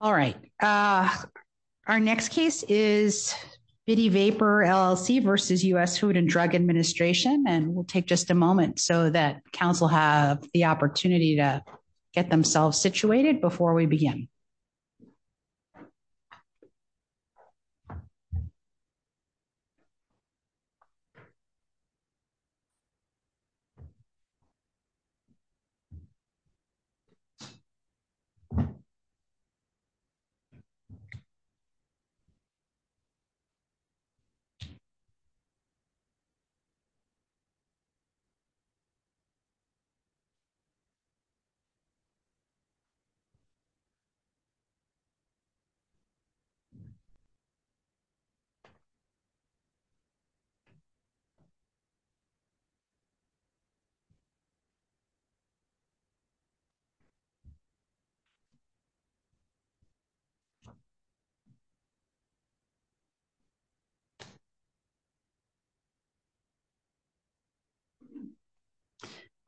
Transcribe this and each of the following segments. All right. Our next case is Bidi Vapor LLC v. U.S. Food and Drug Administration. And we'll take just a moment so that council have the opportunity to get themselves situated before we begin. Bidi Vapor LLC v. U.S. Food and Drug Administration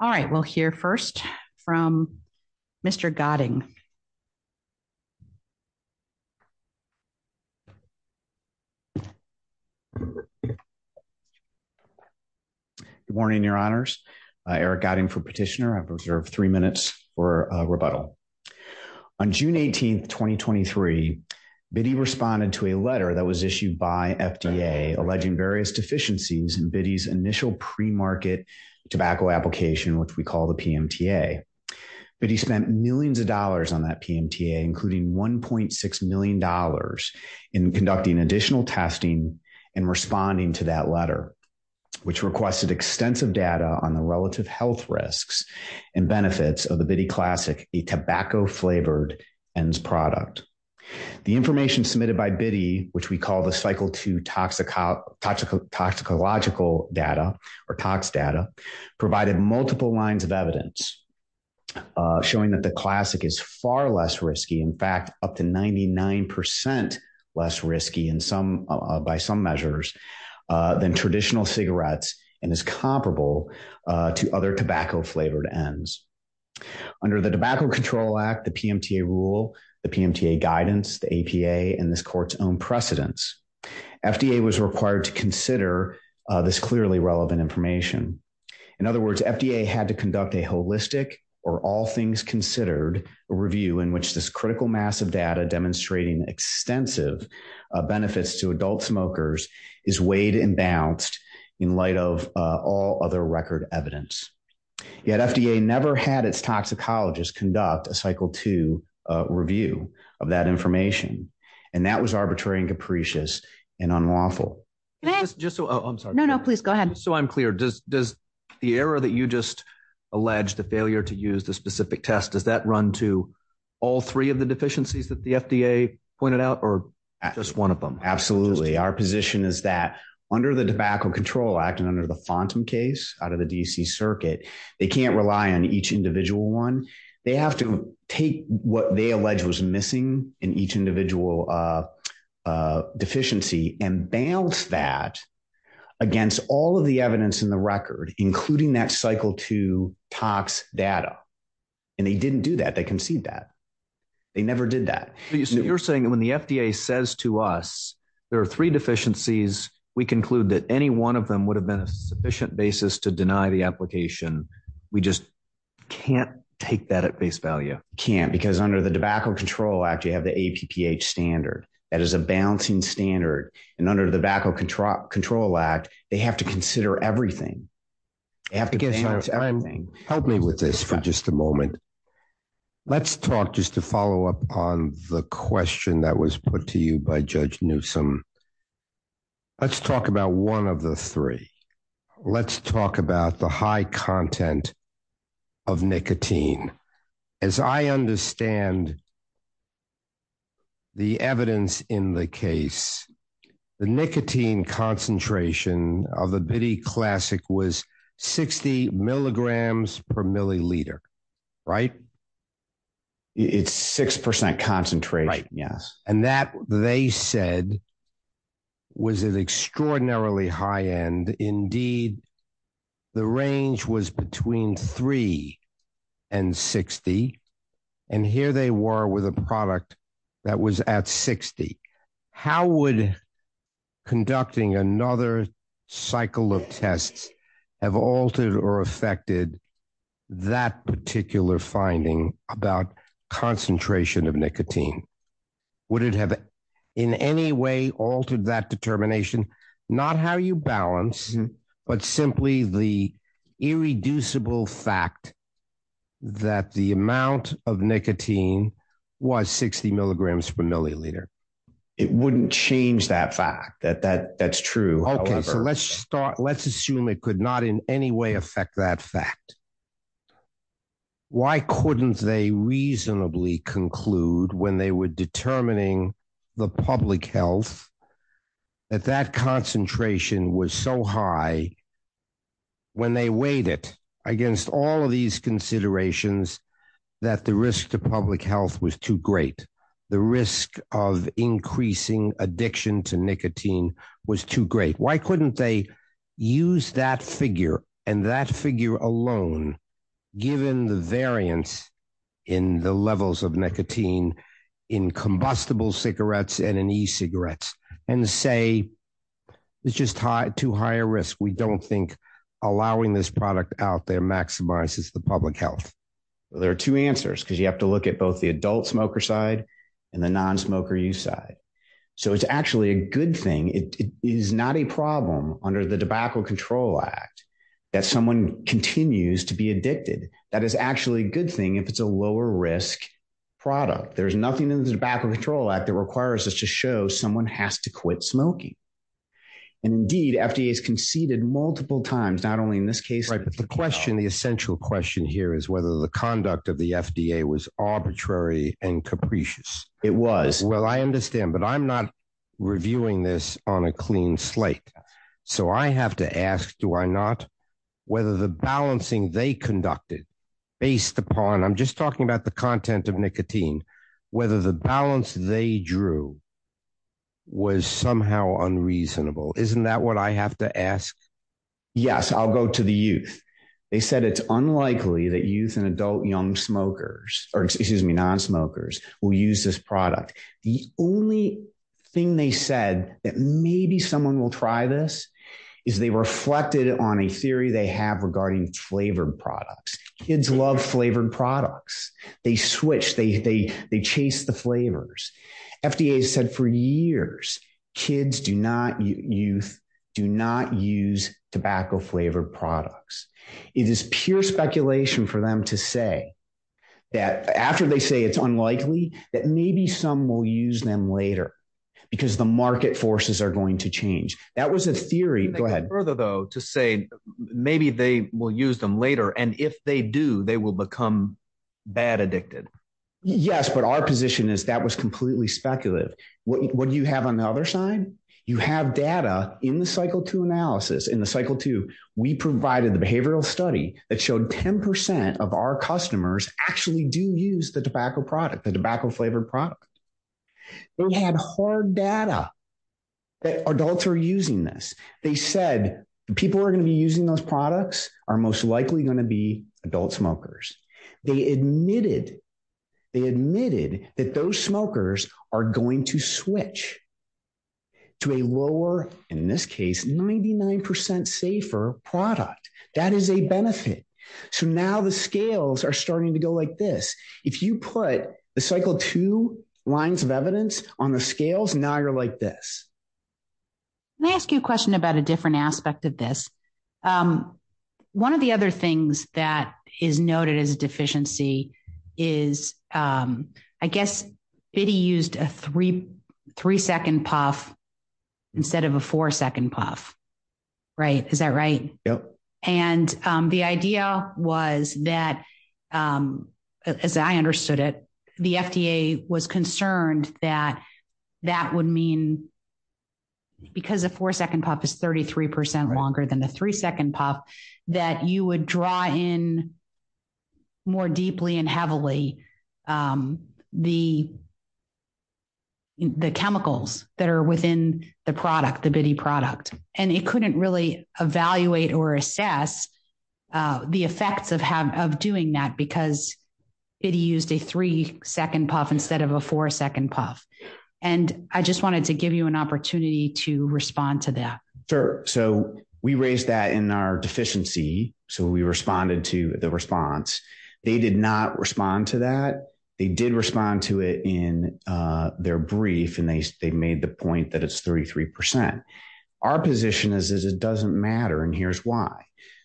All right. We'll hear first from Mr. Gotting. Good morning, Your Honors. Eric Gotting, Food Petitioner. I've been working with Bidi Vapor for a number of years, and I'm So in March of 2023, Bidi responded to a letter that was issued by FDA alleging various deficiencies in Bidi's initial premarket tobacco application, which we call the PMTA. Bidi spent millions of dollars on that PMTA, including $1.6 million in conducting additional testing and responding to that product. The information submitted by Bidi, which we call the Cycle 2 toxicological data or TOCS data, provided multiple lines of evidence showing that the classic is far less risky, in fact, up to 99% less risky by some measures than traditional cigarettes and is comparable to other tobacco-flavored ends. Under the Tobacco Control Act, the PMTA rule, the PMTA guidance, the APA, and this court's own precedence, FDA was required to consider this clearly relevant information. In other words, FDA had to conduct a holistic, or all things considered, review in which this critical mass of data demonstrating extensive benefits to adult smokers is weighed and balanced in light of all other record evidence. Yet FDA never had its toxicologists conduct a Cycle 2 review of that information, and that was arbitrary and capricious and unlawful. Go ahead. I'm sorry. No, no, please go ahead. Just so I'm clear, does the error that you just alleged, the failure to use the specific test, does that run to all three of the deficiencies that the FDA pointed out or just one of them? Absolutely. Our position is that under the Tobacco Control Act and under the FONTM case out of the D.C. Circuit, they can't rely on each individual one. They have to take what they allege was missing in each individual deficiency and balance that against all of the evidence in the record, including that Cycle 2 tox data. And they didn't do that. They conceded that. They never did that. So you're saying that when the FDA says to us, there are three deficiencies, we conclude that any one of them would have been a sufficient basis to deny the application. We just can't take that at face value? Can't, because under the Tobacco Control Act, you have the APPH standard. That is a balancing standard. And under the Tobacco Control Act, they have to consider everything. Help me with this for just a moment. Let's talk, just to follow up on the question that was put to you by Judge Newsome, let's talk about one of the three. Let's talk about the high content of nicotine. As I understand the evidence in the case, the nicotine concentration of the Bitty Classic was 60 milligrams per milliliter, right? It's 6% concentration. Right, yes. And that, they said, was an extraordinarily high end. Indeed, the range was between three and 60. And here they were with a product that was at 60. How would conducting another cycle of tests have altered or affected that particular finding about concentration of nicotine? Would it have in any way altered that determination? Not how you balance, but simply the irreducible fact that the amount of nicotine was 60 milligrams per milliliter. It wouldn't change that fact. That's true. Okay, so let's assume it could not in any way affect that fact. Why couldn't they reasonably conclude when they were determining the public health that that concentration was so high when they weighed it against all of these considerations that the risk to public health was too great? The risk of increasing addiction to nicotine was too great. Why couldn't they use that figure and that figure alone, given the variance in the levels of nicotine in combustible cigarettes and in e-cigarettes, and say, it's just too high a risk. We don't think allowing this product out there maximizes the public health. There are two answers because you have to look at both the adult smoker side and the non-smoker use side. So it's actually a good thing. It is not a problem under the Tobacco Control Act that someone continues to be addicted. That is actually a good thing if it's a lower risk product. There's nothing in the Tobacco Control Act that requires us to show someone has to quit smoking. Indeed, FDA has conceded multiple times, not only in this case. Right, but the question, the essential question here is whether the conduct of the FDA was arbitrary and capricious. It was. Well, I understand, but I'm not reviewing this on a clean slate. So I have to ask, do I not? Whether the balancing they conducted based upon, I'm just talking about the content of nicotine, whether the was somehow unreasonable. Isn't that what I have to ask? Yes, I'll go to the youth. They said it's unlikely that youth and adult young smokers, or excuse me, non-smokers will use this product. The only thing they said that maybe someone will try this is they reflected on a theory they have regarding flavored products. Kids love flavored products. They switch, they chase the flavors. FDA has said for years, kids do not use, do not use tobacco flavored products. It is pure speculation for them to say that after they say it's unlikely that maybe some will use them later because the market forces are going to change. That was a theory. Further though, to say maybe they will use them later. And if they do, they will become bad addicted. Yes, but our position is that was completely speculative. What do you have on the other side? You have data in the cycle two analysis. In the cycle two, we provided the behavioral study that showed 10% of our customers actually do use the tobacco product, the tobacco flavored product. They had hard data that adults are using this. They said the people who are going to be using those products are most likely going to be adult smokers. They admitted, they admitted that those smokers are going to switch to a lower, in this case, 99% safer product. That is a benefit. So now the scales are starting to go like this. If you put the cycle two lines of evidence on the scales, now you're like this. Let me ask you a question about a different aspect of this. One of the other things that is noted as a deficiency is, I guess Biddy used a three-second puff instead of a four-second puff. Is that right? Yes. And the idea was that, as I understood it, the FDA was concerned that that would mean because a four-second puff is 33% longer than a three-second puff, that you would draw in more deeply and heavily the chemicals that are within the product, the Biddy product. And it couldn't really evaluate or assess the effects of doing that because Biddy used a three-second puff instead of a four-second puff. And I just wanted to give you an opportunity to respond to that. So we raised that in our deficiency. So we responded to the response. They did not respond to that. They did respond to it in their brief, and they made the point that it's 33%. Our position is it doesn't matter, and here's why.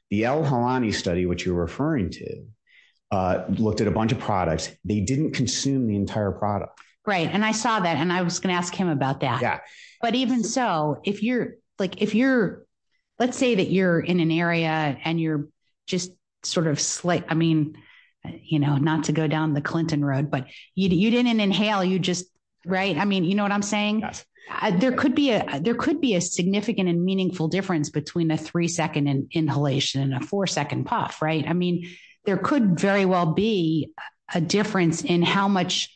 The L. Helani study, which you're referring to, looked at a bunch of products. They didn't consume the entire product. Right, and I saw that, and I was going to ask him about that. But even so, if you're – let's say that you're in an area and you're just sort of – I mean, not to go down the Clinton road, but you didn't inhale, you just – right? I mean, you know what I'm saying? There could be a significant and meaningful difference between a three-second inhalation and a four-second puff, right? I mean, there could very well be a difference in how much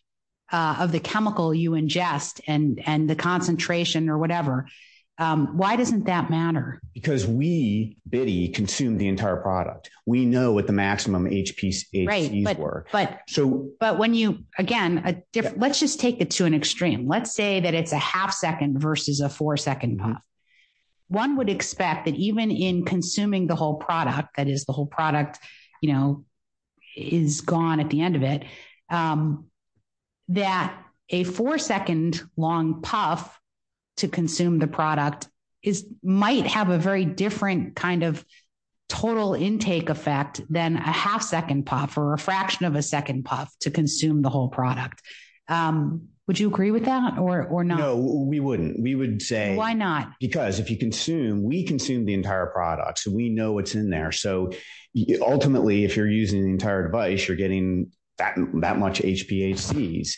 of the chemical you ingest and the concentration or whatever. Why doesn't that matter? Because we, Biddy, consume the entire product. We know what the maximum HPCs were. Right, but when you – again, let's just take it to an extreme. Let's say that it's a half-second versus a four-second puff. One would expect that even in consuming the whole product, that is, the whole product is gone at the end of it, that a four-second-long puff to consume the product might have a very different kind of total intake effect than a half-second puff or a fraction of a second puff to consume the whole product. Would you agree with that or not? No, we wouldn't. We would say – Why not? Because if you consume – we consume the entire product, so we know what's in there. So ultimately, if you're using the entire device, you're getting that much HPACs,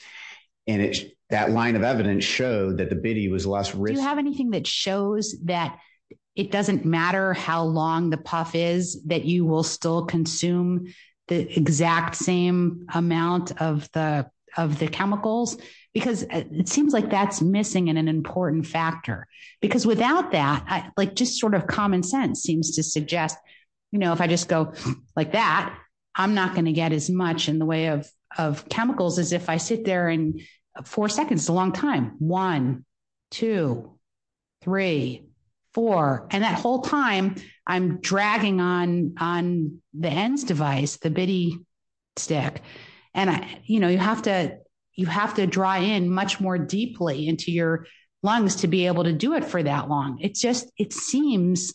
and that line of evidence showed that the Biddy was less – Do you have anything that shows that it doesn't matter how long the puff is, that you will still consume the exact same amount of the chemicals? Because it seems like that's missing an important factor. Because without that, just sort of common sense seems to suggest, you know, if I just go like that, I'm not going to get as much in the way of chemicals as if I sit there and – four seconds is a long time. One, two, three, four. And that whole time, I'm dragging on the ENDS device, the Biddy stick. And, you know, you have to draw in much more deeply into your lungs to be able to do it for that long. It just – it seems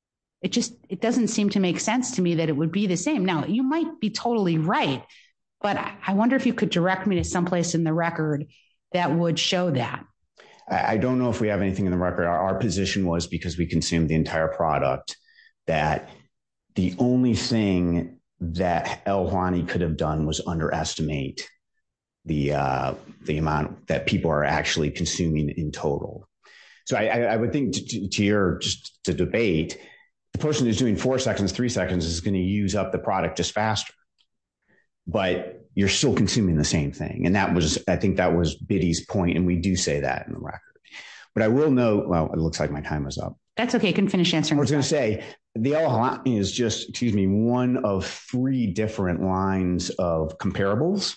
– it just – it doesn't seem to make sense to me that it would be the same. Now, you might be totally right, but I wonder if you could direct me to someplace in the record that would show that. I don't know if we have anything in the record. Our position was because we consumed the entire product that the only thing that L-Huani could have done was underestimate the amount that people are actually consuming in total. So I would think to your – just to debate, the person who's doing four seconds, three seconds, is going to use up the product just faster. But you're still consuming the same thing. And that was – I think that was Biddy's point, and we do say that in the record. But I will note – well, it looks like my time is up. That's okay. I couldn't finish answering. I was going to say the L-Huani is just, excuse me, one of three different lines of comparables.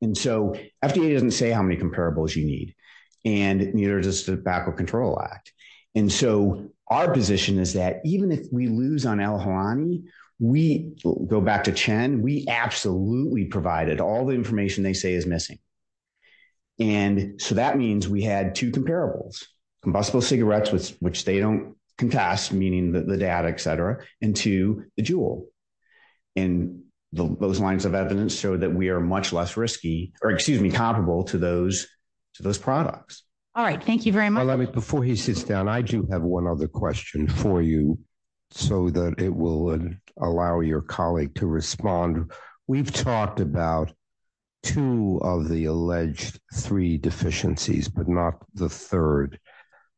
And so FDA doesn't say how many comparables you need, and neither does the Backward Control Act. And so our position is that even if we lose on L-Huani, we – go back to Chen – we absolutely provided all the information they say is missing. And so that means we had two comparables, combustible cigarettes, which they don't contest, meaning the data, et cetera, and to the Juul. And those lines of evidence show that we are much less risky – or excuse me, comparable to those products. All right. Thank you very much. Before he sits down, I do have one other question for you so that it will allow your colleague to respond. We've talked about two of the alleged three deficiencies, but not the third.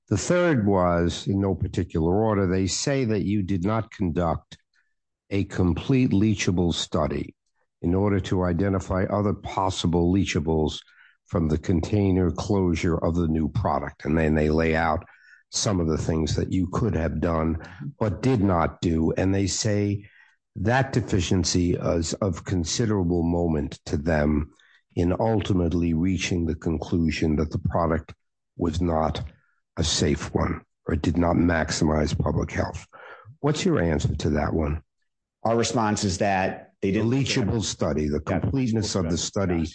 The third was in no particular order. They say that you did not conduct a complete leachable study in order to identify other possible leachables from the container closure of the new product. And then they lay out some of the things that you could have done but did not do. And they say that deficiency is of considerable moment to them in ultimately reaching the conclusion that the product was not a safe one or did not maximize public health. What's your answer to that one? Our response is that they didn't – A leachable study, the completeness of the study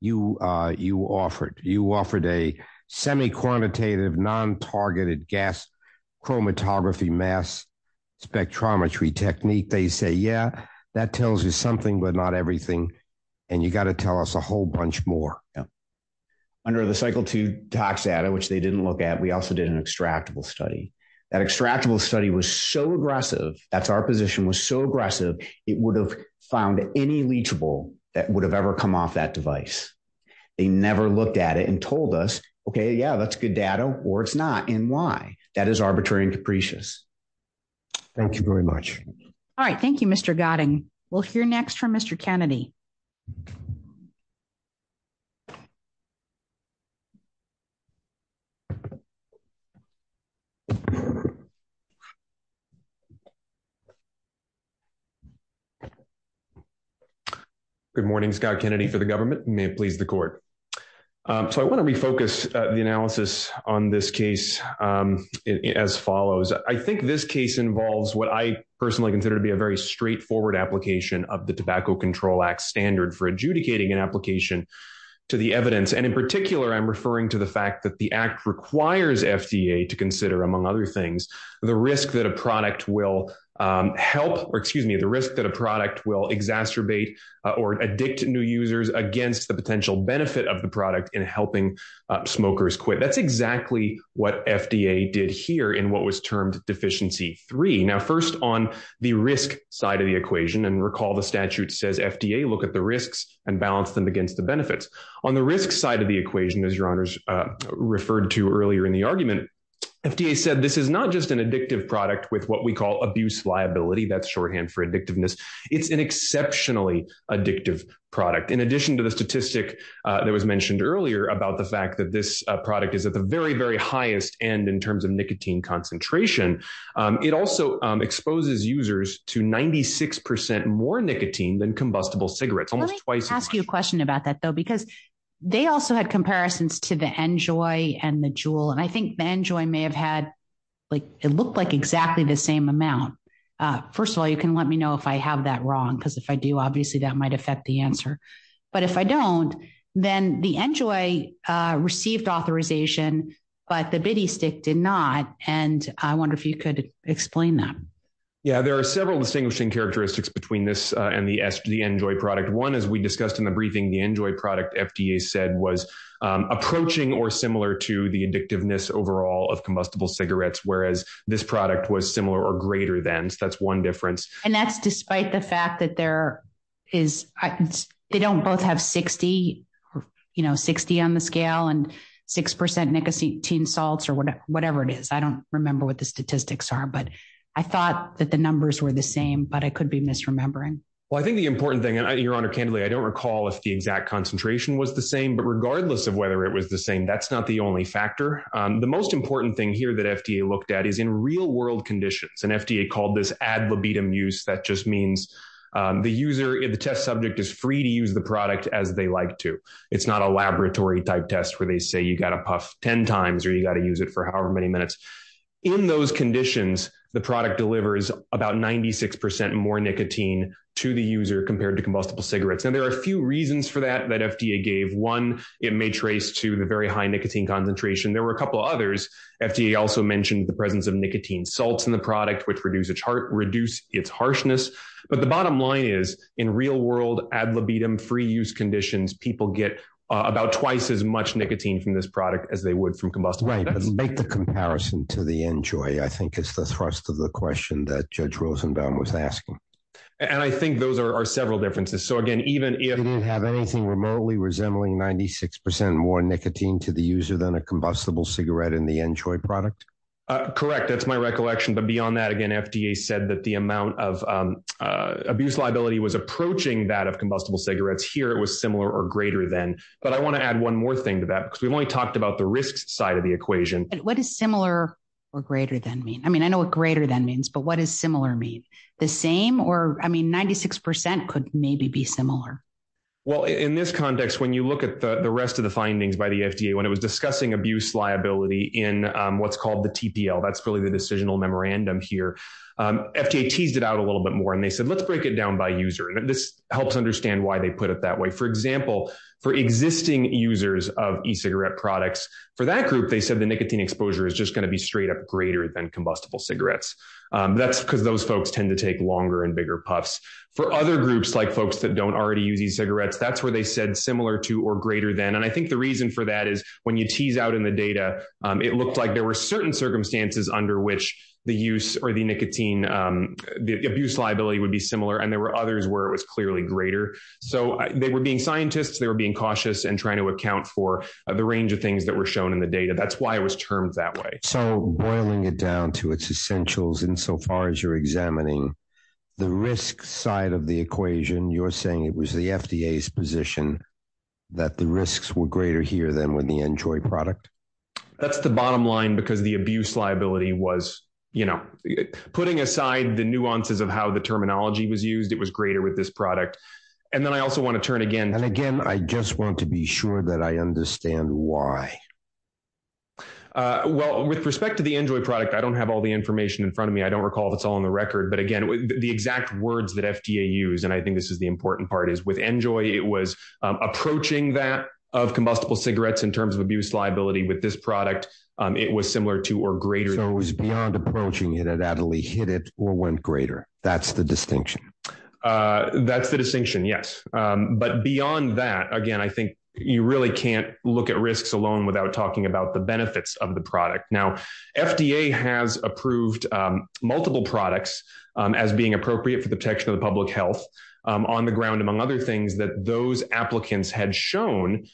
you offered. You offered a semi-quantitative, non-targeted gas chromatography mass spectrometry technique. They say, yeah, that tells you something but not everything, and you've got to tell us a whole bunch more. Yep. Under the cycle two tox data, which they didn't look at, we also did an extractable study. That extractable study was so aggressive, that's our position, was so aggressive, it would have found any leachable that would have ever come off that device. They never looked at it and told us, okay, yeah, that's good data, or it's not, and why. That is arbitrary and capricious. Thank you very much. All right. Thank you, Mr. Gotting. We'll hear next from Mr. Kennedy. Good morning. Scott Kennedy for the government and may it please the court. So I want to refocus the analysis on this case as follows. I think this case involves what I personally consider to be a very straightforward application of the Tobacco Control Act standard for adjudicating an application to the evidence, and in particular, I'm referring to the fact that the act requires FDA to consider, among other things, the risk that a product will help, or excuse me, the risk that a product will exacerbate or addict new users against the potential benefit of the product in helping smokers quit. That's exactly what FDA did here in what was termed deficiency three. Now, first on the risk side of the equation, and recall, the statute says FDA look at the risks and balance them against the benefits on the risk side of the equation, as your honors referred to earlier in the argument, FDA said, this is not just an addictive product with what we call abuse liability. That's shorthand for addictiveness. It's an exceptionally addictive product. In addition to the statistic that was mentioned earlier about the fact that this product is at the very, very highest end in terms of nicotine concentration. It also exposes users to 96% more nicotine than combustible cigarettes. Almost twice. I'll ask you a question about that though, because they also had comparisons to the enjoy and the jewel. And I think the enjoy may have had like, it looked like exactly the same amount. First of all, you can let me know if I have that wrong. Cause if I do, obviously that might affect the answer, but if I don't, then the enjoy received authorization, but the bitty stick did not. And I wonder if you could explain that. Yeah, there are several distinguishing characteristics between this and the S the enjoy product. One is we discussed in the briefing, the enjoy product FDA said was approaching or similar to the addictiveness overall of combustible cigarettes. Whereas this product was similar or greater than that's one difference. And that's despite the fact that there is, they don't both have 60, you know, 60 on the scale and 6% nicotine salts or whatever it is. I don't remember what the statistics are, but I thought that the numbers were the same, but I could be misremembering. Well, I think the important thing and your honor, candidly, I don't recall if the exact concentration was the same, but regardless of whether it was the same, that's not the only factor. The most important thing here that FDA looked at is in real world conditions and FDA called this ad libidum use. That just means the user in the test subject is free to use the product as they like to. It's not a laboratory type test where they say you got to puff 10 times or you got to use it for however many minutes in those conditions, the product delivers about 96% more nicotine to the user compared to combustible cigarettes. And there are a few reasons for that, that FDA gave one, it may trace to the very high nicotine concentration. There were a couple of others. FDA also mentioned the presence of nicotine salts in the product, which reduce its heart, reduce its harshness. But the bottom line is in real world ad libidum free use conditions, people get about twice as much nicotine from this product as they would from combustible. Let's make the comparison to the enjoy. I think it's the thrust of the question that judge Rosenbaum was asking. And I think those are several differences. So again, even if you didn't have anything remotely resembling 96% more nicotine to the user than a combustible cigarette in the enjoy product. Correct. That's my recollection. But beyond that, again, FDA said that the amount of abuse liability was approaching that of combustible cigarettes here. It was similar or greater than, but I want to add one more thing to that because we've only talked about the risks side of the equation. What is similar or greater than me? I mean, I know what greater than means, but what is similar mean the same or I mean, 96% could maybe be similar. Well, in this context, when you look at the rest of the findings by the FDA, when it was discussing abuse liability in what's called the TPL, that's really the decisional memorandum here. FDA teased it out a little bit more and they said, let's break it down by user. And this helps understand why they put it that way. For example, for existing users of e-cigarette products for that group, they said the nicotine exposure is just going to be straight up greater than combustible cigarettes. That's because those folks tend to take longer and bigger puffs for other groups, like folks that don't already use e-cigarettes. That's where they said similar to, or greater than. And I think the reason for that is when you tease out in the data, it looked like there were certain circumstances under which the use or the nicotine, the abuse liability would be similar. And there were others where it was clearly greater. So they were being scientists, they were being cautious and trying to account for the range of things that were shown in the data. That's why it was termed that way. So boiling it down to its essentials in so far as you're examining the risk side of the equation, you're saying it was the FDA's position that the risks were greater here than with the Enjoy product. That's the bottom line because the abuse liability was, you know, putting aside the nuances of how the terminology was used. It was greater with this product. And then I also want to turn again. And again, I just want to be sure that I understand why. Well, with respect to the Enjoy product, I don't have all the information in front of me. I don't recall if it's all on the record, but again, the exact words that FDA use. And I think this is the important part is with Enjoy, it was approaching that of combustible cigarettes in terms of abuse liability with this product. It was similar to or greater. So it was beyond approaching it at Adderley hit it or went greater. That's the distinction. That's the distinction. Yes. But beyond that, again, I think you really can't look at risks alone without talking about the benefits of the product. Now, FDA has approved multiple products as being appropriate for the protection of the public health on the ground, among other things that those applicants had shown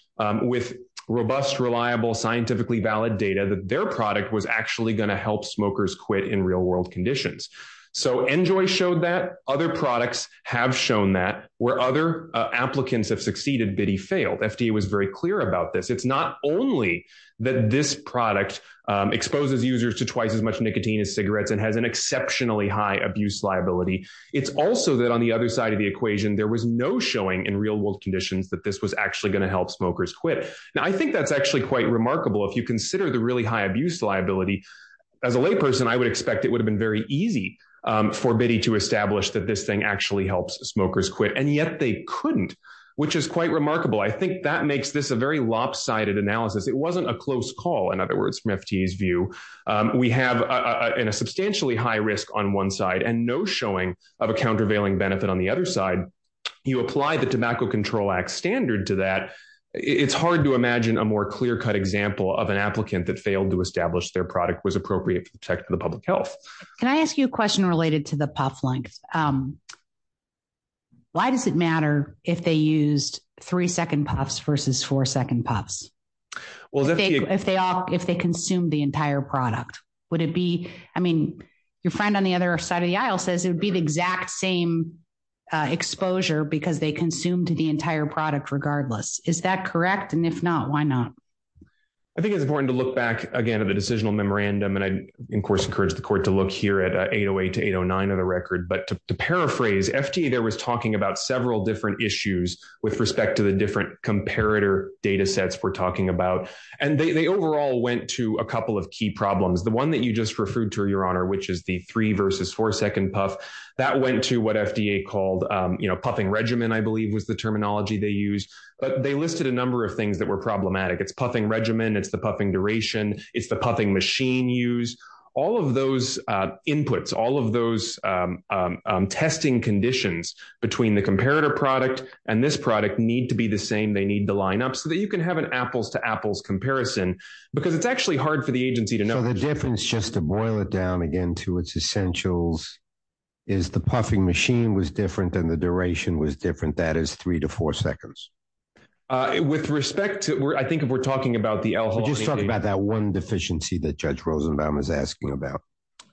with robust, reliable, scientifically valid data, that their product was actually going to help smokers quit in real world conditions. So Enjoy showed that other products have shown that where other applicants have succeeded, bitty failed. FDA was very clear about this. It's not only that this product exposes users to twice as much nicotine as cigarettes and has an exceptionally high abuse liability. It's also that on the other side of the equation, there was no showing in real world conditions that this was actually going to help smokers quit. Now, I think that's actually quite remarkable. If you consider the really high abuse liability as a lay person, I would expect it would have been very easy for Bitty to establish that this thing actually helps smokers quit. And yet they couldn't, which is quite remarkable. I think that makes this a very lopsided analysis. It wasn't a close call. In other words, from FDA's view, we have a substantially high risk on one side and no showing of a countervailing benefit on the other side. You apply the tobacco control act standard to that. It's hard to imagine a more clear cut example of an applicant that failed to establish their product was appropriate for the public health. Can I ask you a question related to the puff length? Why does it matter if they used three second puffs versus four second puffs? If they consumed the entire product, would it be, I mean, your friend on the other side of the aisle says it would be the exact same exposure because they consumed the entire product regardless. Is that correct? And if not, why not? I think it's important to look back again at the decisional memorandum. And I of course encourage the court to look here at a 808 to 809 of the record, but to paraphrase FDA, there was talking about several different issues with respect to the different comparator data sets we're talking about. And they overall went to a couple of key problems. The one that you just referred to your honor, which is the three versus four second puff that went to what FDA called, you know, puffing regimen, I believe was the terminology they use, but they listed a number of things that were problematic. It's puffing regimen. It's the puffing duration. It's the puffing machine use all of those inputs, all of those testing conditions between the comparator product and this and they need to line up so that you can have an apples to apples comparison because it's actually hard for the agency to know. So the difference just to boil it down again to its essentials is the puffing machine was different than the duration was different. That is three to four seconds. With respect to where I think if we're talking about the alcohol, just talk about that one deficiency that judge Rosenbaum is asking about.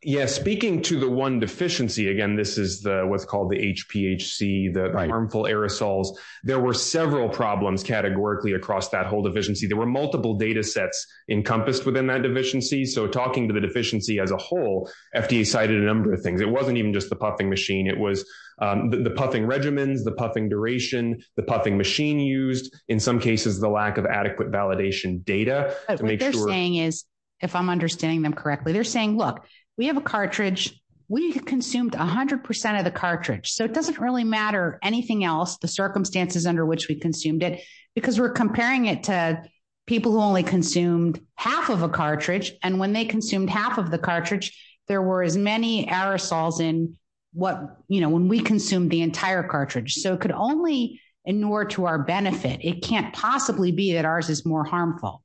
Yes. Speaking to the one deficiency, again, this is the, what's called the HPHC, the harmful aerosols. There were several problems categorically across that whole deficiency. There were multiple datasets encompassed within that deficiency. So talking to the deficiency as a whole, FDA cited a number of things. It wasn't even just the puffing machine. It was the puffing regimens, the puffing duration, the puffing machine used in some cases, the lack of adequate validation data. What they're saying is if I'm understanding them correctly, they're saying, look, we have a cartridge. We consumed a hundred percent of the cartridge. So it doesn't really matter anything else, the circumstances under which we consumed it, because we're comparing it to people who only consumed half of a cartridge. And when they consumed half of the cartridge, there were as many aerosols in what, you know, when we consumed the entire cartridge. So it could only ignore to our benefit. It can't possibly be that ours is more harmful.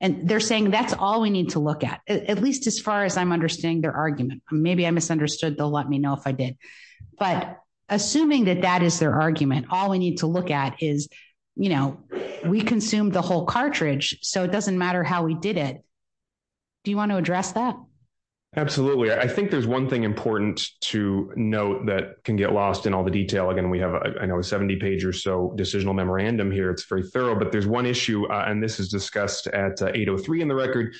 And they're saying that's all we need to look at, at least as far as I'm understanding their argument, maybe I misunderstood. They'll let me know if I did. But assuming that that is their argument, all we need to look at is, you know, we consumed the whole cartridge. So it doesn't matter how we did it. Do you want to address that? I think there's one thing important to note that can get lost in all the detail. Again, we have, I know, a 70 page or so decisional memorandum here. It's very thorough, but there's one issue, and this is discussed at 803 in the record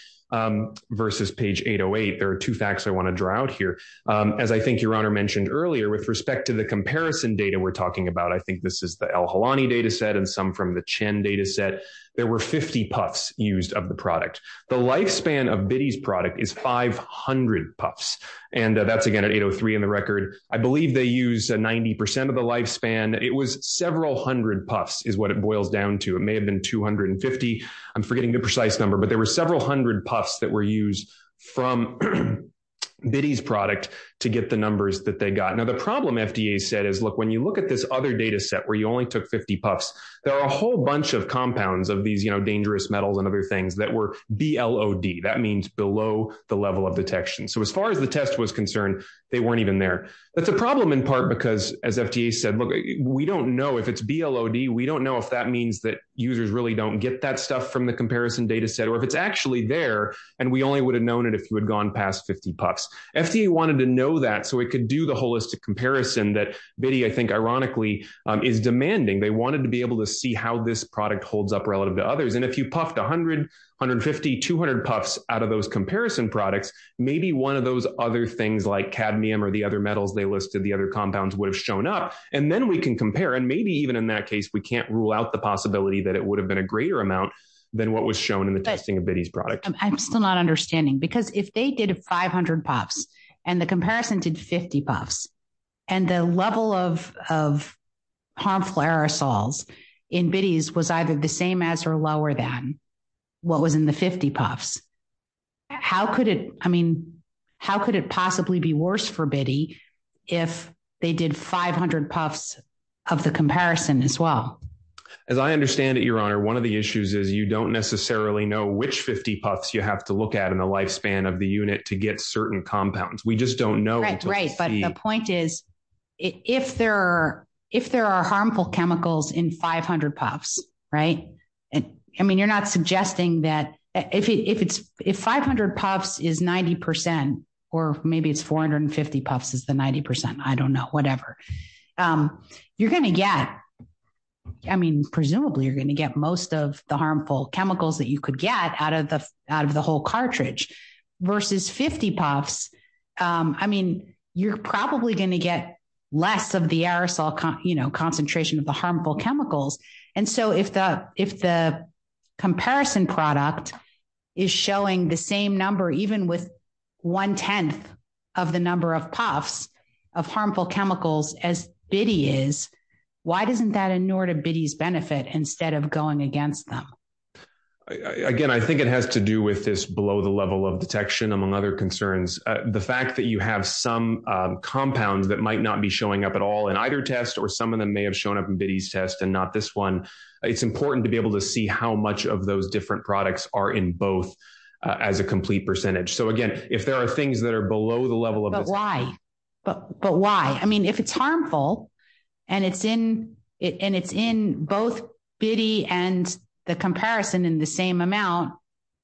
versus page 808. There are two facts I want to draw out here. As I think your honor mentioned earlier, with respect to the comparison data we're talking about, I think this is the Al-Halani data set and some from the Chen data set. There were 50 puffs used of the product. The lifespan of Bitty's product is 500 puffs. And that's again at 803 in the record. I believe they use 90% of the lifespan. It was several hundred puffs is what it boils down to. It may have been 250. I'm forgetting the precise number, but there were several hundred puffs that were used from Bitty's product to get the numbers that they got. Now, the problem FDA said is, look, when you look at this other data set where you only took 50 puffs, there are a whole bunch of compounds of these dangerous metals and other things that were BLOD. That means below the level of detection. So as far as the test was concerned, they weren't even there. That's a problem in part because as FDA said, look, we don't know if it's BLOD. We don't know if that means that users really don't get that stuff from the comparison data set, or if it's actually there. And we only would have known it if you had gone past 50 puffs. FDA wanted to know that so it could do the holistic comparison that Bitty, I think ironically is demanding. They wanted to be able to see how this product holds up relative to others. And if you puffed 100, 150, 200 puffs out of those comparison products, maybe one of those other things like cadmium or the other metals they listed, the other compounds would have shown up and then we can compare. And maybe even in that case, we can't rule out the possibility that it would have been a greater amount than what was shown in the testing of Bitty's product. I'm still not understanding because if they did 500 puffs and the comparison did 50 puffs and the level of, of harmful aerosols in Bitty's was either the same as, or lower than what was in the 50 puffs. How could it, I mean, how could it possibly be worse for Bitty if they did 500 puffs of the comparison as well? As I understand it, Your Honor, one of the issues is you don't necessarily know which 50 puffs you have to look at in a lifespan of the unit to get certain compounds. We just don't know. But the point is if there are, if there are harmful chemicals in 500 puffs, right. I mean, you're not suggesting that if it's, if 500 puffs is 90% or maybe it's 450 puffs is the 90%. I don't know, whatever you're going to get. I mean, presumably you're going to get most of the harmful chemicals that you could get out of the, out of the whole cartridge versus 50 puffs. I mean, you're probably going to get less of the aerosol, you know, concentration of the harmful chemicals. And so if the, if the comparison product is showing the same number, even with one 10th of the number of puffs of harmful chemicals as Bitty is, why doesn't that ignore to Bitty's benefit instead of going against them? Again, I think it has to do with this below the level of detection, among other concerns. The fact that you have some compounds that might not be showing up at all in either test, or some of them may have shown up in Bitty's test and not this one. It's important to be able to see how much of those different products are in both as a complete percentage. So again, if there are things that are below the level of why, but why, I mean, if it's harmful and it's in it and it's in both Bitty and the comparison in the same amount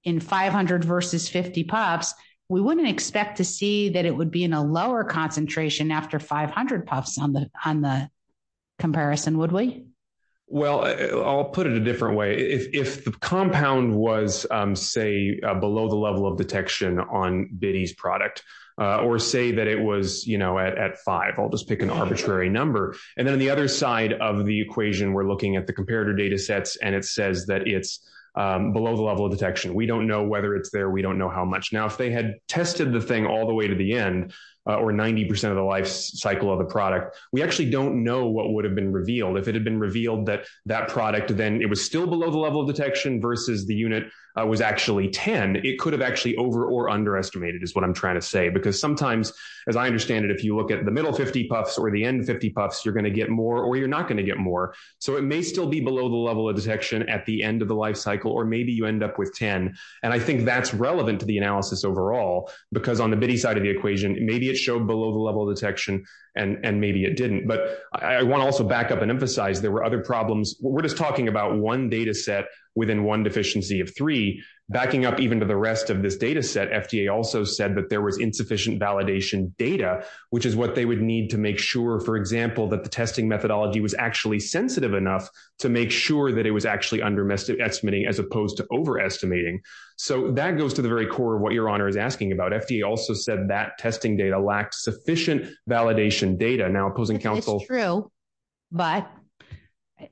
in 500 versus 50 puffs, we wouldn't expect to see that it would be in a lower concentration after 500 puffs on the, on the comparison, would we? Well, I'll put it a different way. If, if the compound was say, below the level of detection on Bitty's product or say that it was, you know, at five, I'll just pick an arbitrary number. And then on the other side of the equation, we're looking at the comparator data sets. And it says that it's below the level of detection. We don't know whether it's there. We don't know how much now, if they had tested the thing all the way to the end or 90% of the life cycle of the product, we actually don't know what would have been revealed. If it had been revealed that that product, then it was still below the level of detection versus the unit was actually 10. It could have actually over or underestimated is what I'm trying to say. Because sometimes as I understand it, if you look at the middle 50 puffs or the end 50 puffs, you're going to get more or you're not going to get more. So it may still be below the level of detection at the end of the life cycle, or maybe you end up with 10. And I think that's relevant to the analysis overall, because on the Bitty side of the equation, maybe it showed below the level of detection and maybe it didn't, but I want to also back up and emphasize there were other problems. We're just talking about one data set within one deficiency of three backing up, even to the rest of this data set. FDA also said that there was insufficient validation data, which is what they would need to make sure. For example, that the testing methodology was actually sensitive enough to make sure that it was actually underestimating as opposed to overestimating. So that goes to the very core of what your honor is asking about. FDA also said that testing data lacks sufficient validation data now opposing counsel. But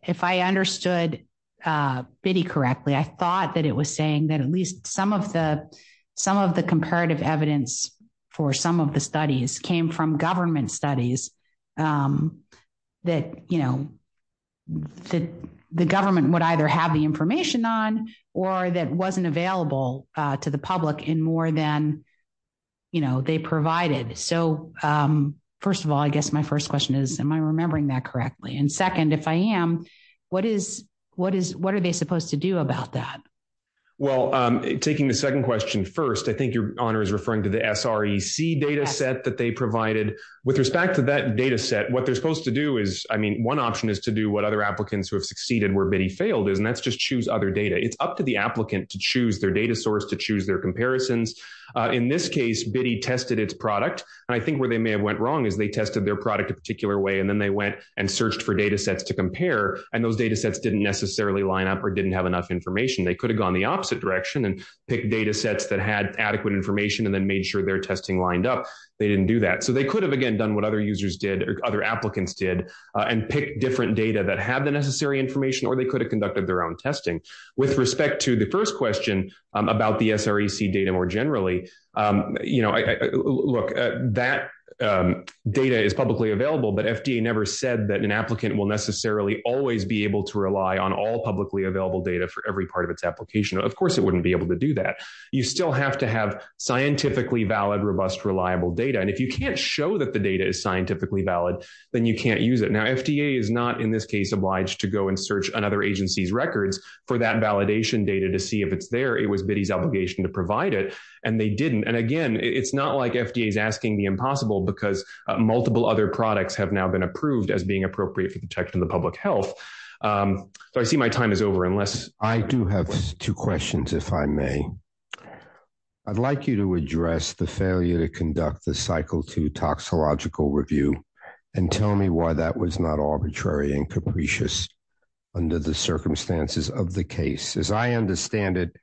if I understood Bitty correctly, I thought that it was saying that at least some of the, some of the comparative evidence for some of the studies came from government studies. That, you know, The government would either have the information on, or that wasn't available to the public in more than. You know, they provided. So, first of all, I guess my first question is, am I remembering that correctly? And second, if I am, what is, what is, What am I supposed to do about that? Well, taking the second question first, I think your honor is referring to the SREC data set that they provided with respect to that data set. What they're supposed to do is, I mean, one option is to do what other applicants who have succeeded where Bitty failed is, and that's just choose other data. It's up to the applicant to choose their data source, to choose their comparisons. In this case, Bitty tested its product. And I think where they may have went wrong is they tested their product a particular way. And then they went and searched for data sets to compare. And those data sets didn't necessarily line up or didn't have enough information. They could have gone the opposite direction and pick data sets that had adequate information and then made sure their testing lined up. They didn't do that. So they could have again, done what other users did or other applicants did and pick different data that have the necessary information, or they could have conducted their own testing with respect to the first question about the SREC data more generally. You know, look, that data is publicly available, but FDA never said that an applicant will necessarily always be able to rely on all publicly available data for every part of its application. Of course it wouldn't be able to do that. You still have to have scientifically valid, robust, reliable data. And if you can't show that the data is scientifically valid, then you can't use it. Now, FDA is not in this case, obliged to go and search another agency's records for that validation data to see if it's there. It was Bitty's obligation to provide it. And they didn't. And again, it's not like FDA is asking the impossible because multiple other products have now been approved as being appropriate for the protection of the public health. So I see my time is over unless. I do have two questions, if I may. I'd like you to address the failure to conduct the cycle two toxicological review and tell me why that was not arbitrary and capricious under the circumstances of the case. As I understand it,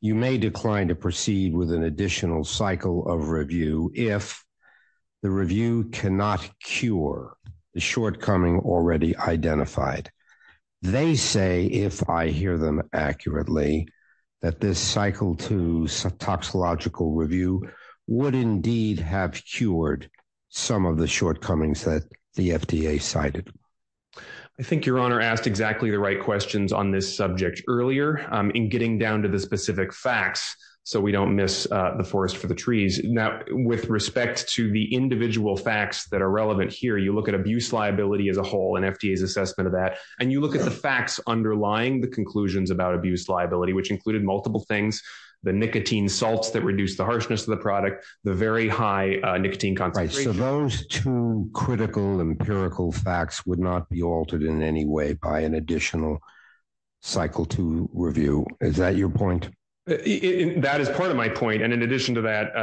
you may decline to proceed with an additional cycle of review. If the review cannot cure the shortcoming already identified, they say, if I hear them accurately, that this cycle two toxicological review would indeed have cured some of the shortcomings that the FDA cited. I think your honor asked exactly the right questions on this subject earlier in getting down to the specific facts. So we don't miss the forest for the trees. Now with respect to the individual facts that are relevant here, you look at abuse liability as a whole and FDA's assessment of that. And you look at the facts underlying the conclusions about abuse liability, which included multiple things, the nicotine salts that reduce the harshness of the product, the very high nicotine concentration. Those two critical empirical facts would not be altered in any way by an additional cycle to review. Is that your point? That is part of my point. And in addition to that,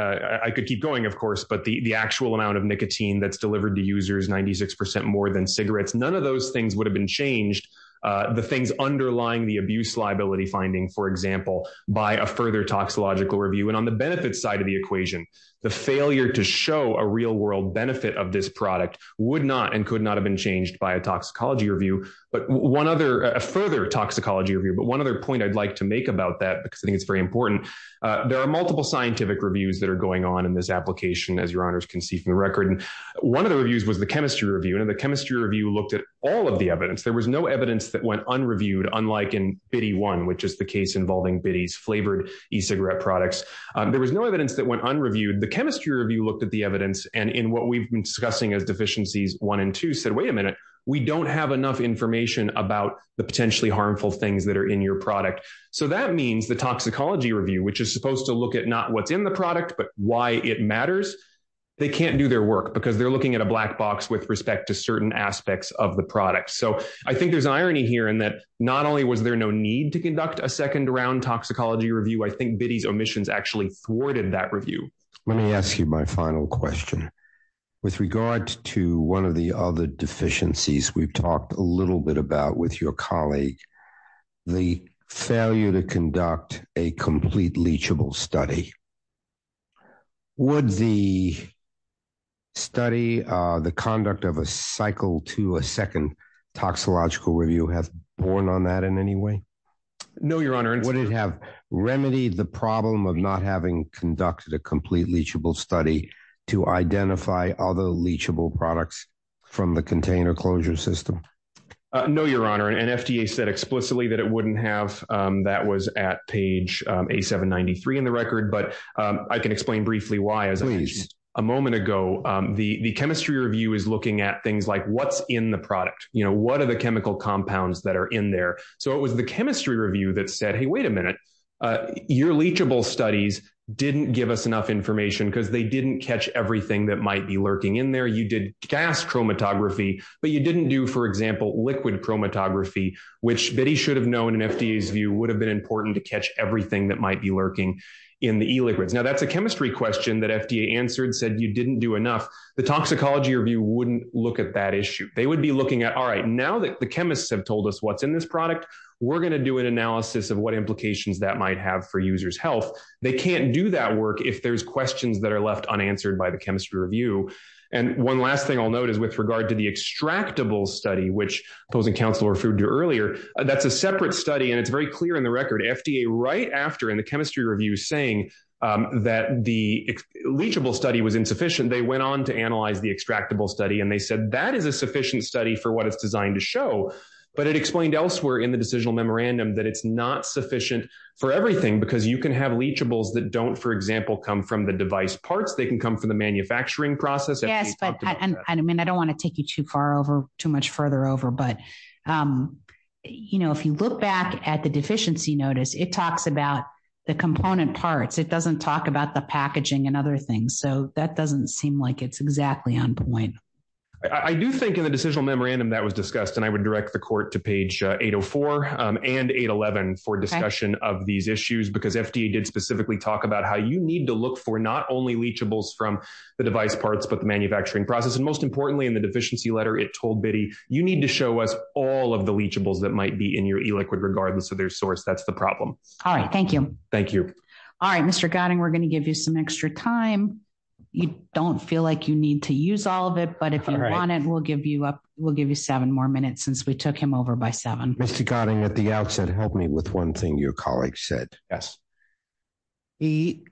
I could keep going of course, but the actual amount of nicotine that's delivered to users, 96% more than cigarettes, none of those things would have been changed. The things underlying the abuse liability finding, for example, by a further toxicological review and on the benefits side of the equation, the failure to show a real world benefit of this product would not, and could not have been changed by a toxicology review, but one other, a further toxicology review. But one other point I'd like to make about that, because I think it's very important. There are multiple scientific reviews that are going on in this application, as your honors can see from the record. And one of the reviews was the chemistry review and the chemistry review looked at all of the evidence. There was no evidence that went unreviewed unlike in Biddy one, which is the case involving Biddy's flavored e-cigarette products. There was no evidence that went unreviewed. The chemistry review looked at the evidence and in what we've been discussing as deficiencies one and two said, wait a minute, we don't have enough information about the potentially harmful things that are included in your product. So that means the toxicology review, which is supposed to look at not what's in the product, but why it matters. They can't do their work because they're looking at a black box with respect to certain aspects of the product. So I think there's irony here in that not only was there no need to conduct a second round toxicology review, I think Biddy's omissions actually thwarted that review. Let me ask you my final question. With regard to one of the other deficiencies we've talked a little bit about with your colleague, the failure to conduct a complete leachable study. Would the study, the conduct of a cycle to a second toxicological review has borne on that in any way? No, Your Honor. Would it have remedied the problem of not having conducted a complete leachable study to identify other leachable products from the container closure system? No, Your Honor. And FDA said explicitly that it wouldn't have. That was at page a seven 93 in the record, but I can explain briefly why as a moment ago, the chemistry review is looking at things like what's in the product. You know, what are the chemical compounds that are in there? So it was the chemistry review that said, Hey, wait a minute. Your leachable studies didn't give us enough information because they didn't catch everything that might be lurking in there. You did gas chromatography, but you didn't do, for example, liquid chromatography, which Biddy should have known in FDA's view would have been important to catch everything that might be lurking in the e-liquids. Now that's a chemistry question that FDA answered said you didn't do enough. The toxicology review wouldn't look at that issue. They would be looking at, all right, now that the chemists have told us what's in this product, we're going to do an analysis of what implications that might have for users health. They can't do that work if there's questions that are left unanswered by the chemistry review. And one last thing I'll note is with regard to the extractable study, which opposing counsel referred to earlier, that's a separate study and it's very clear in the record, FDA right after in the chemistry review saying that the leachable study was insufficient. They went on to analyze the extractable study and they said that is a sufficient study for what it's designed to show, but it explained elsewhere in the decisional memorandum that it's not sufficient for everything because you can have leachables that don't, for example, come from the device parts. They can come from the manufacturing process. And I mean, I don't want to take you too far over too much further over, but you know, if you look back at the deficiency notice, it talks about the component parts. It doesn't talk about the packaging and other things. So that doesn't seem like it's exactly on point. I do think in the decisional memorandum that was discussed and I would direct the court to page eight Oh four and eight 11 for discussion of these issues, because FDA did specifically talk about how you need to look for not only leachables from the device parts, but the manufacturing process. And most importantly, in the deficiency letter, it told Biddy, you need to show us all of the leachables that might be in your e-liquid regardless of their source. That's the problem. All right. Thank you. Thank you. All right, Mr. Gotting. We're going to give you some extra time. You don't feel like you need to use all of it, but if you want it, we'll give you up. We'll give you seven more minutes since we took him over by seven. Mr. Gotting at the outset helped me with one thing. Your colleague said, yes. He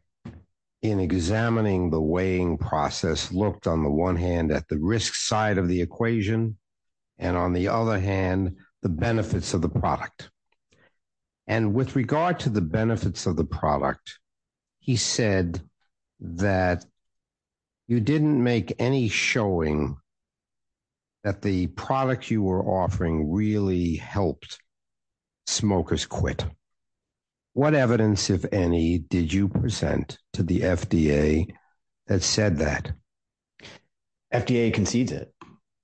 in examining the weighing process looked on the one hand at the risk side of the equation. And on the other hand, the benefits of the product and with regard to the benefits of the product, he said that you didn't make any showing that the product you were offering really helped smokers quit. What evidence, if any, did you present to the FDA that said that? FDA concedes it.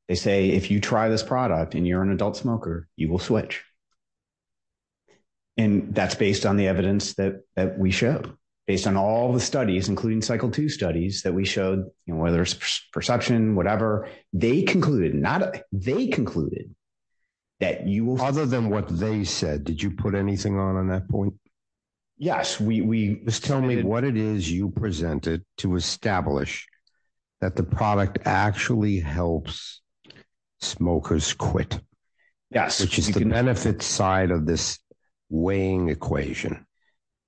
They say if you try this product and you're an adult smoker, you will switch. And that's based on the evidence that we showed based on all the studies, including cycle two studies that we showed, you know, whether it's perception, whatever they concluded, not they concluded that you will. Other than what they said, did you put anything on, on that point? Yes. We, we. Just tell me what it is you presented to establish that the product actually helps smokers quit. Yes. Which is the benefit side of this weighing equation.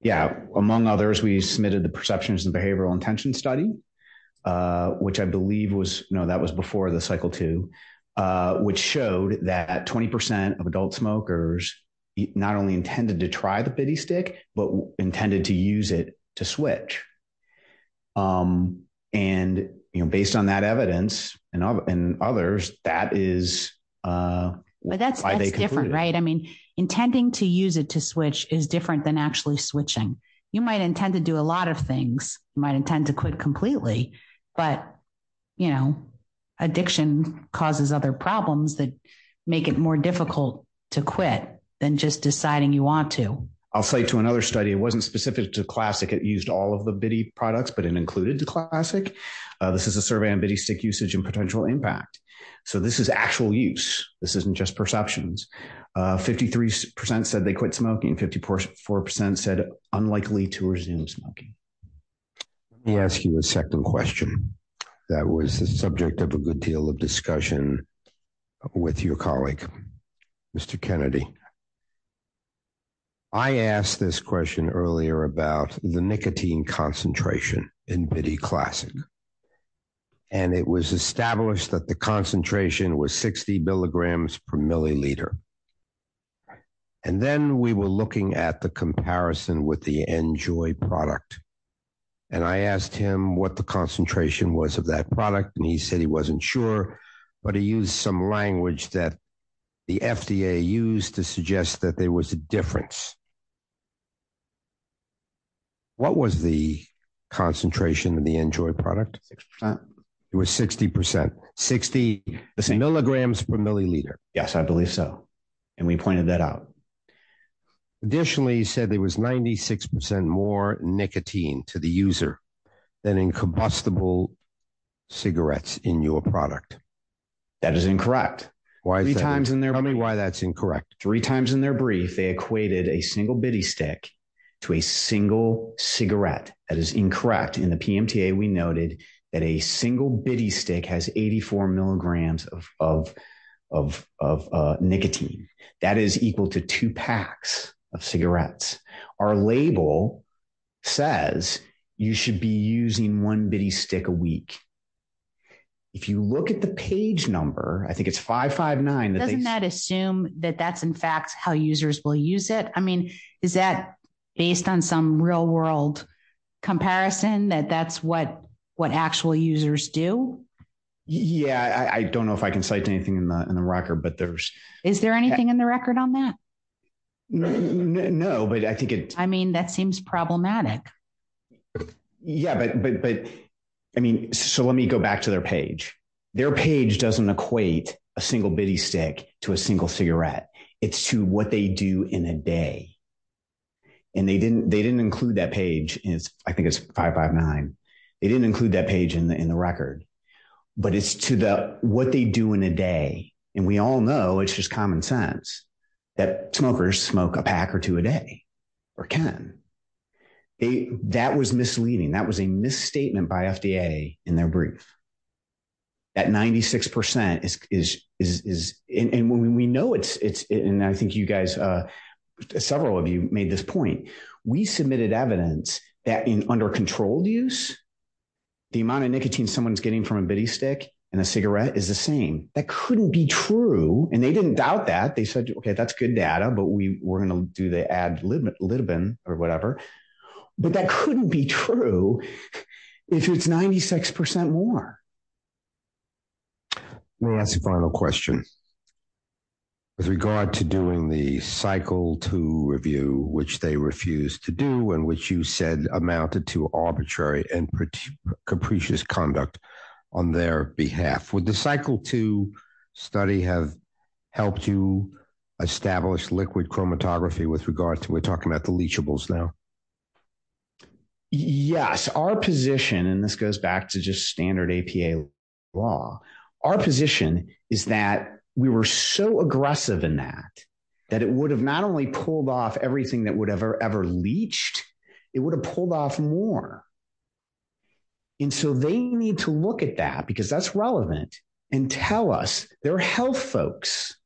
Yeah. Among others, we submitted the perceptions and behavioral intention study, which I believe was, no, that was before the cycle two, which showed that 20% of adult smokers not only intended to try the pity stick, but intended to use it to switch. And, you know, based on that evidence and others, that is. But that's different, right? I mean, intending to use it to switch is different than actually switching. You might intend to do a lot of things, might intend to quit completely, but you know, addiction causes other problems that make it more difficult to quit than just deciding you want to. I'll say to another study, it wasn't specific to classic. It used all of the bitty products, but it included the classic. This is a survey on bitty stick usage and potential impact. So this is actual use. This isn't just perceptions. 53% said they quit smoking. 54% said unlikely to resume smoking. Let me ask you a second question. That was the subject of a good deal of discussion with your colleague, Mr. Kennedy. I asked this question earlier about the nicotine concentration in bitty classic, and it was established that the concentration was 60 milligrams per milliliter. And then we were looking at the comparison with the enjoy product. And I asked him what the concentration was of that product. And he said he wasn't sure, but he used some language that the FDA used to suggest that there was a difference. What was the concentration of the enjoy product? It was 60%, 60 milligrams per milliliter. Probably so. And we pointed that out. Additionally, he said there was 96% more nicotine to the user than in combustible cigarettes in your product. That is incorrect. Tell me why that's incorrect. Three times in their brief, they equated a single bitty stick to a single cigarette. That is incorrect. In the PMTA we noted that a single bitty stick has 84 milligrams of, of, of, of nicotine. That is equal to two packs of cigarettes. Our label says you should be using one bitty stick a week. If you look at the page number, I think it's five, five, nine. Doesn't that assume that that's in fact how users will use it. I mean, is that based on some real world comparison that that's what, what actual users do? Yeah. I don't know if I can cite anything in the, in the record, but there's, is there anything in the record on that? No, but I think it, I mean, that seems problematic. Yeah, but, but, but I mean, so let me go back to their page. Their page doesn't equate a single bitty stick to a single cigarette. It's to what they do in a day. And they didn't, they didn't include that page is I think it's five, five, nine. They didn't include that page in the, in the record. But it's to the, what they do in a day and we all know it's just common sense that smokers smoke a pack or two a day or can. That was misleading. That was a misstatement by FDA in their brief. At 96% is, is, is, is, and when we know it's, it's, and I think you guys, several of you made this point. We submitted evidence that in under controlled use, the amount of nicotine someone's getting from a bitty stick and a cigarette is the same. That couldn't be true. And they didn't doubt that. They said, okay, that's good data, but we were going to do the ad lib, a little bit or whatever, but that couldn't be true. If it's 96% more. Let me ask the final question. With regard to doing the cycle to review, which they refused to do and which you said amounted to arbitrary and pretty capricious conduct on their behalf with the cycle to study have helped you establish liquid chromatography with regard to, we're talking about the leachables now. Yes. Our position, and this goes back to just standard APA law. Our position is that we were so aggressive in that, that it would have not only pulled off everything that would ever, ever leached, it would have pulled off more. And so they need to look at that because that's relevant and tell us their health folks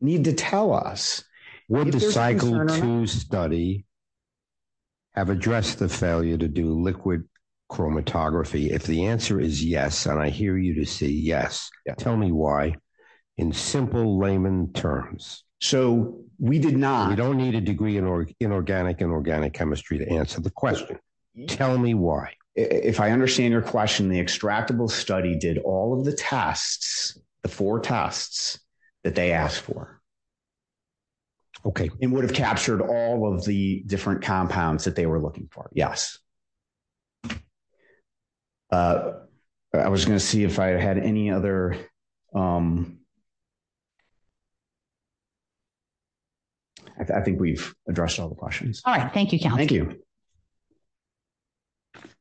need to tell us. Would the cycle to study have addressed the failure to do liquid chromatography? If the answer is yes. And I hear you to say, yes. Tell me why in simple layman terms. So we did not, we don't need a degree in organic, inorganic chemistry to answer the question. Tell me why. If I understand your question, the extractable study did all of the tests, the four tests that they asked for. Okay. It would have captured all of the different compounds that they were looking for. Yes. I was going to see if I had any other I think we've addressed all the questions. All right. Thank you. Thank you.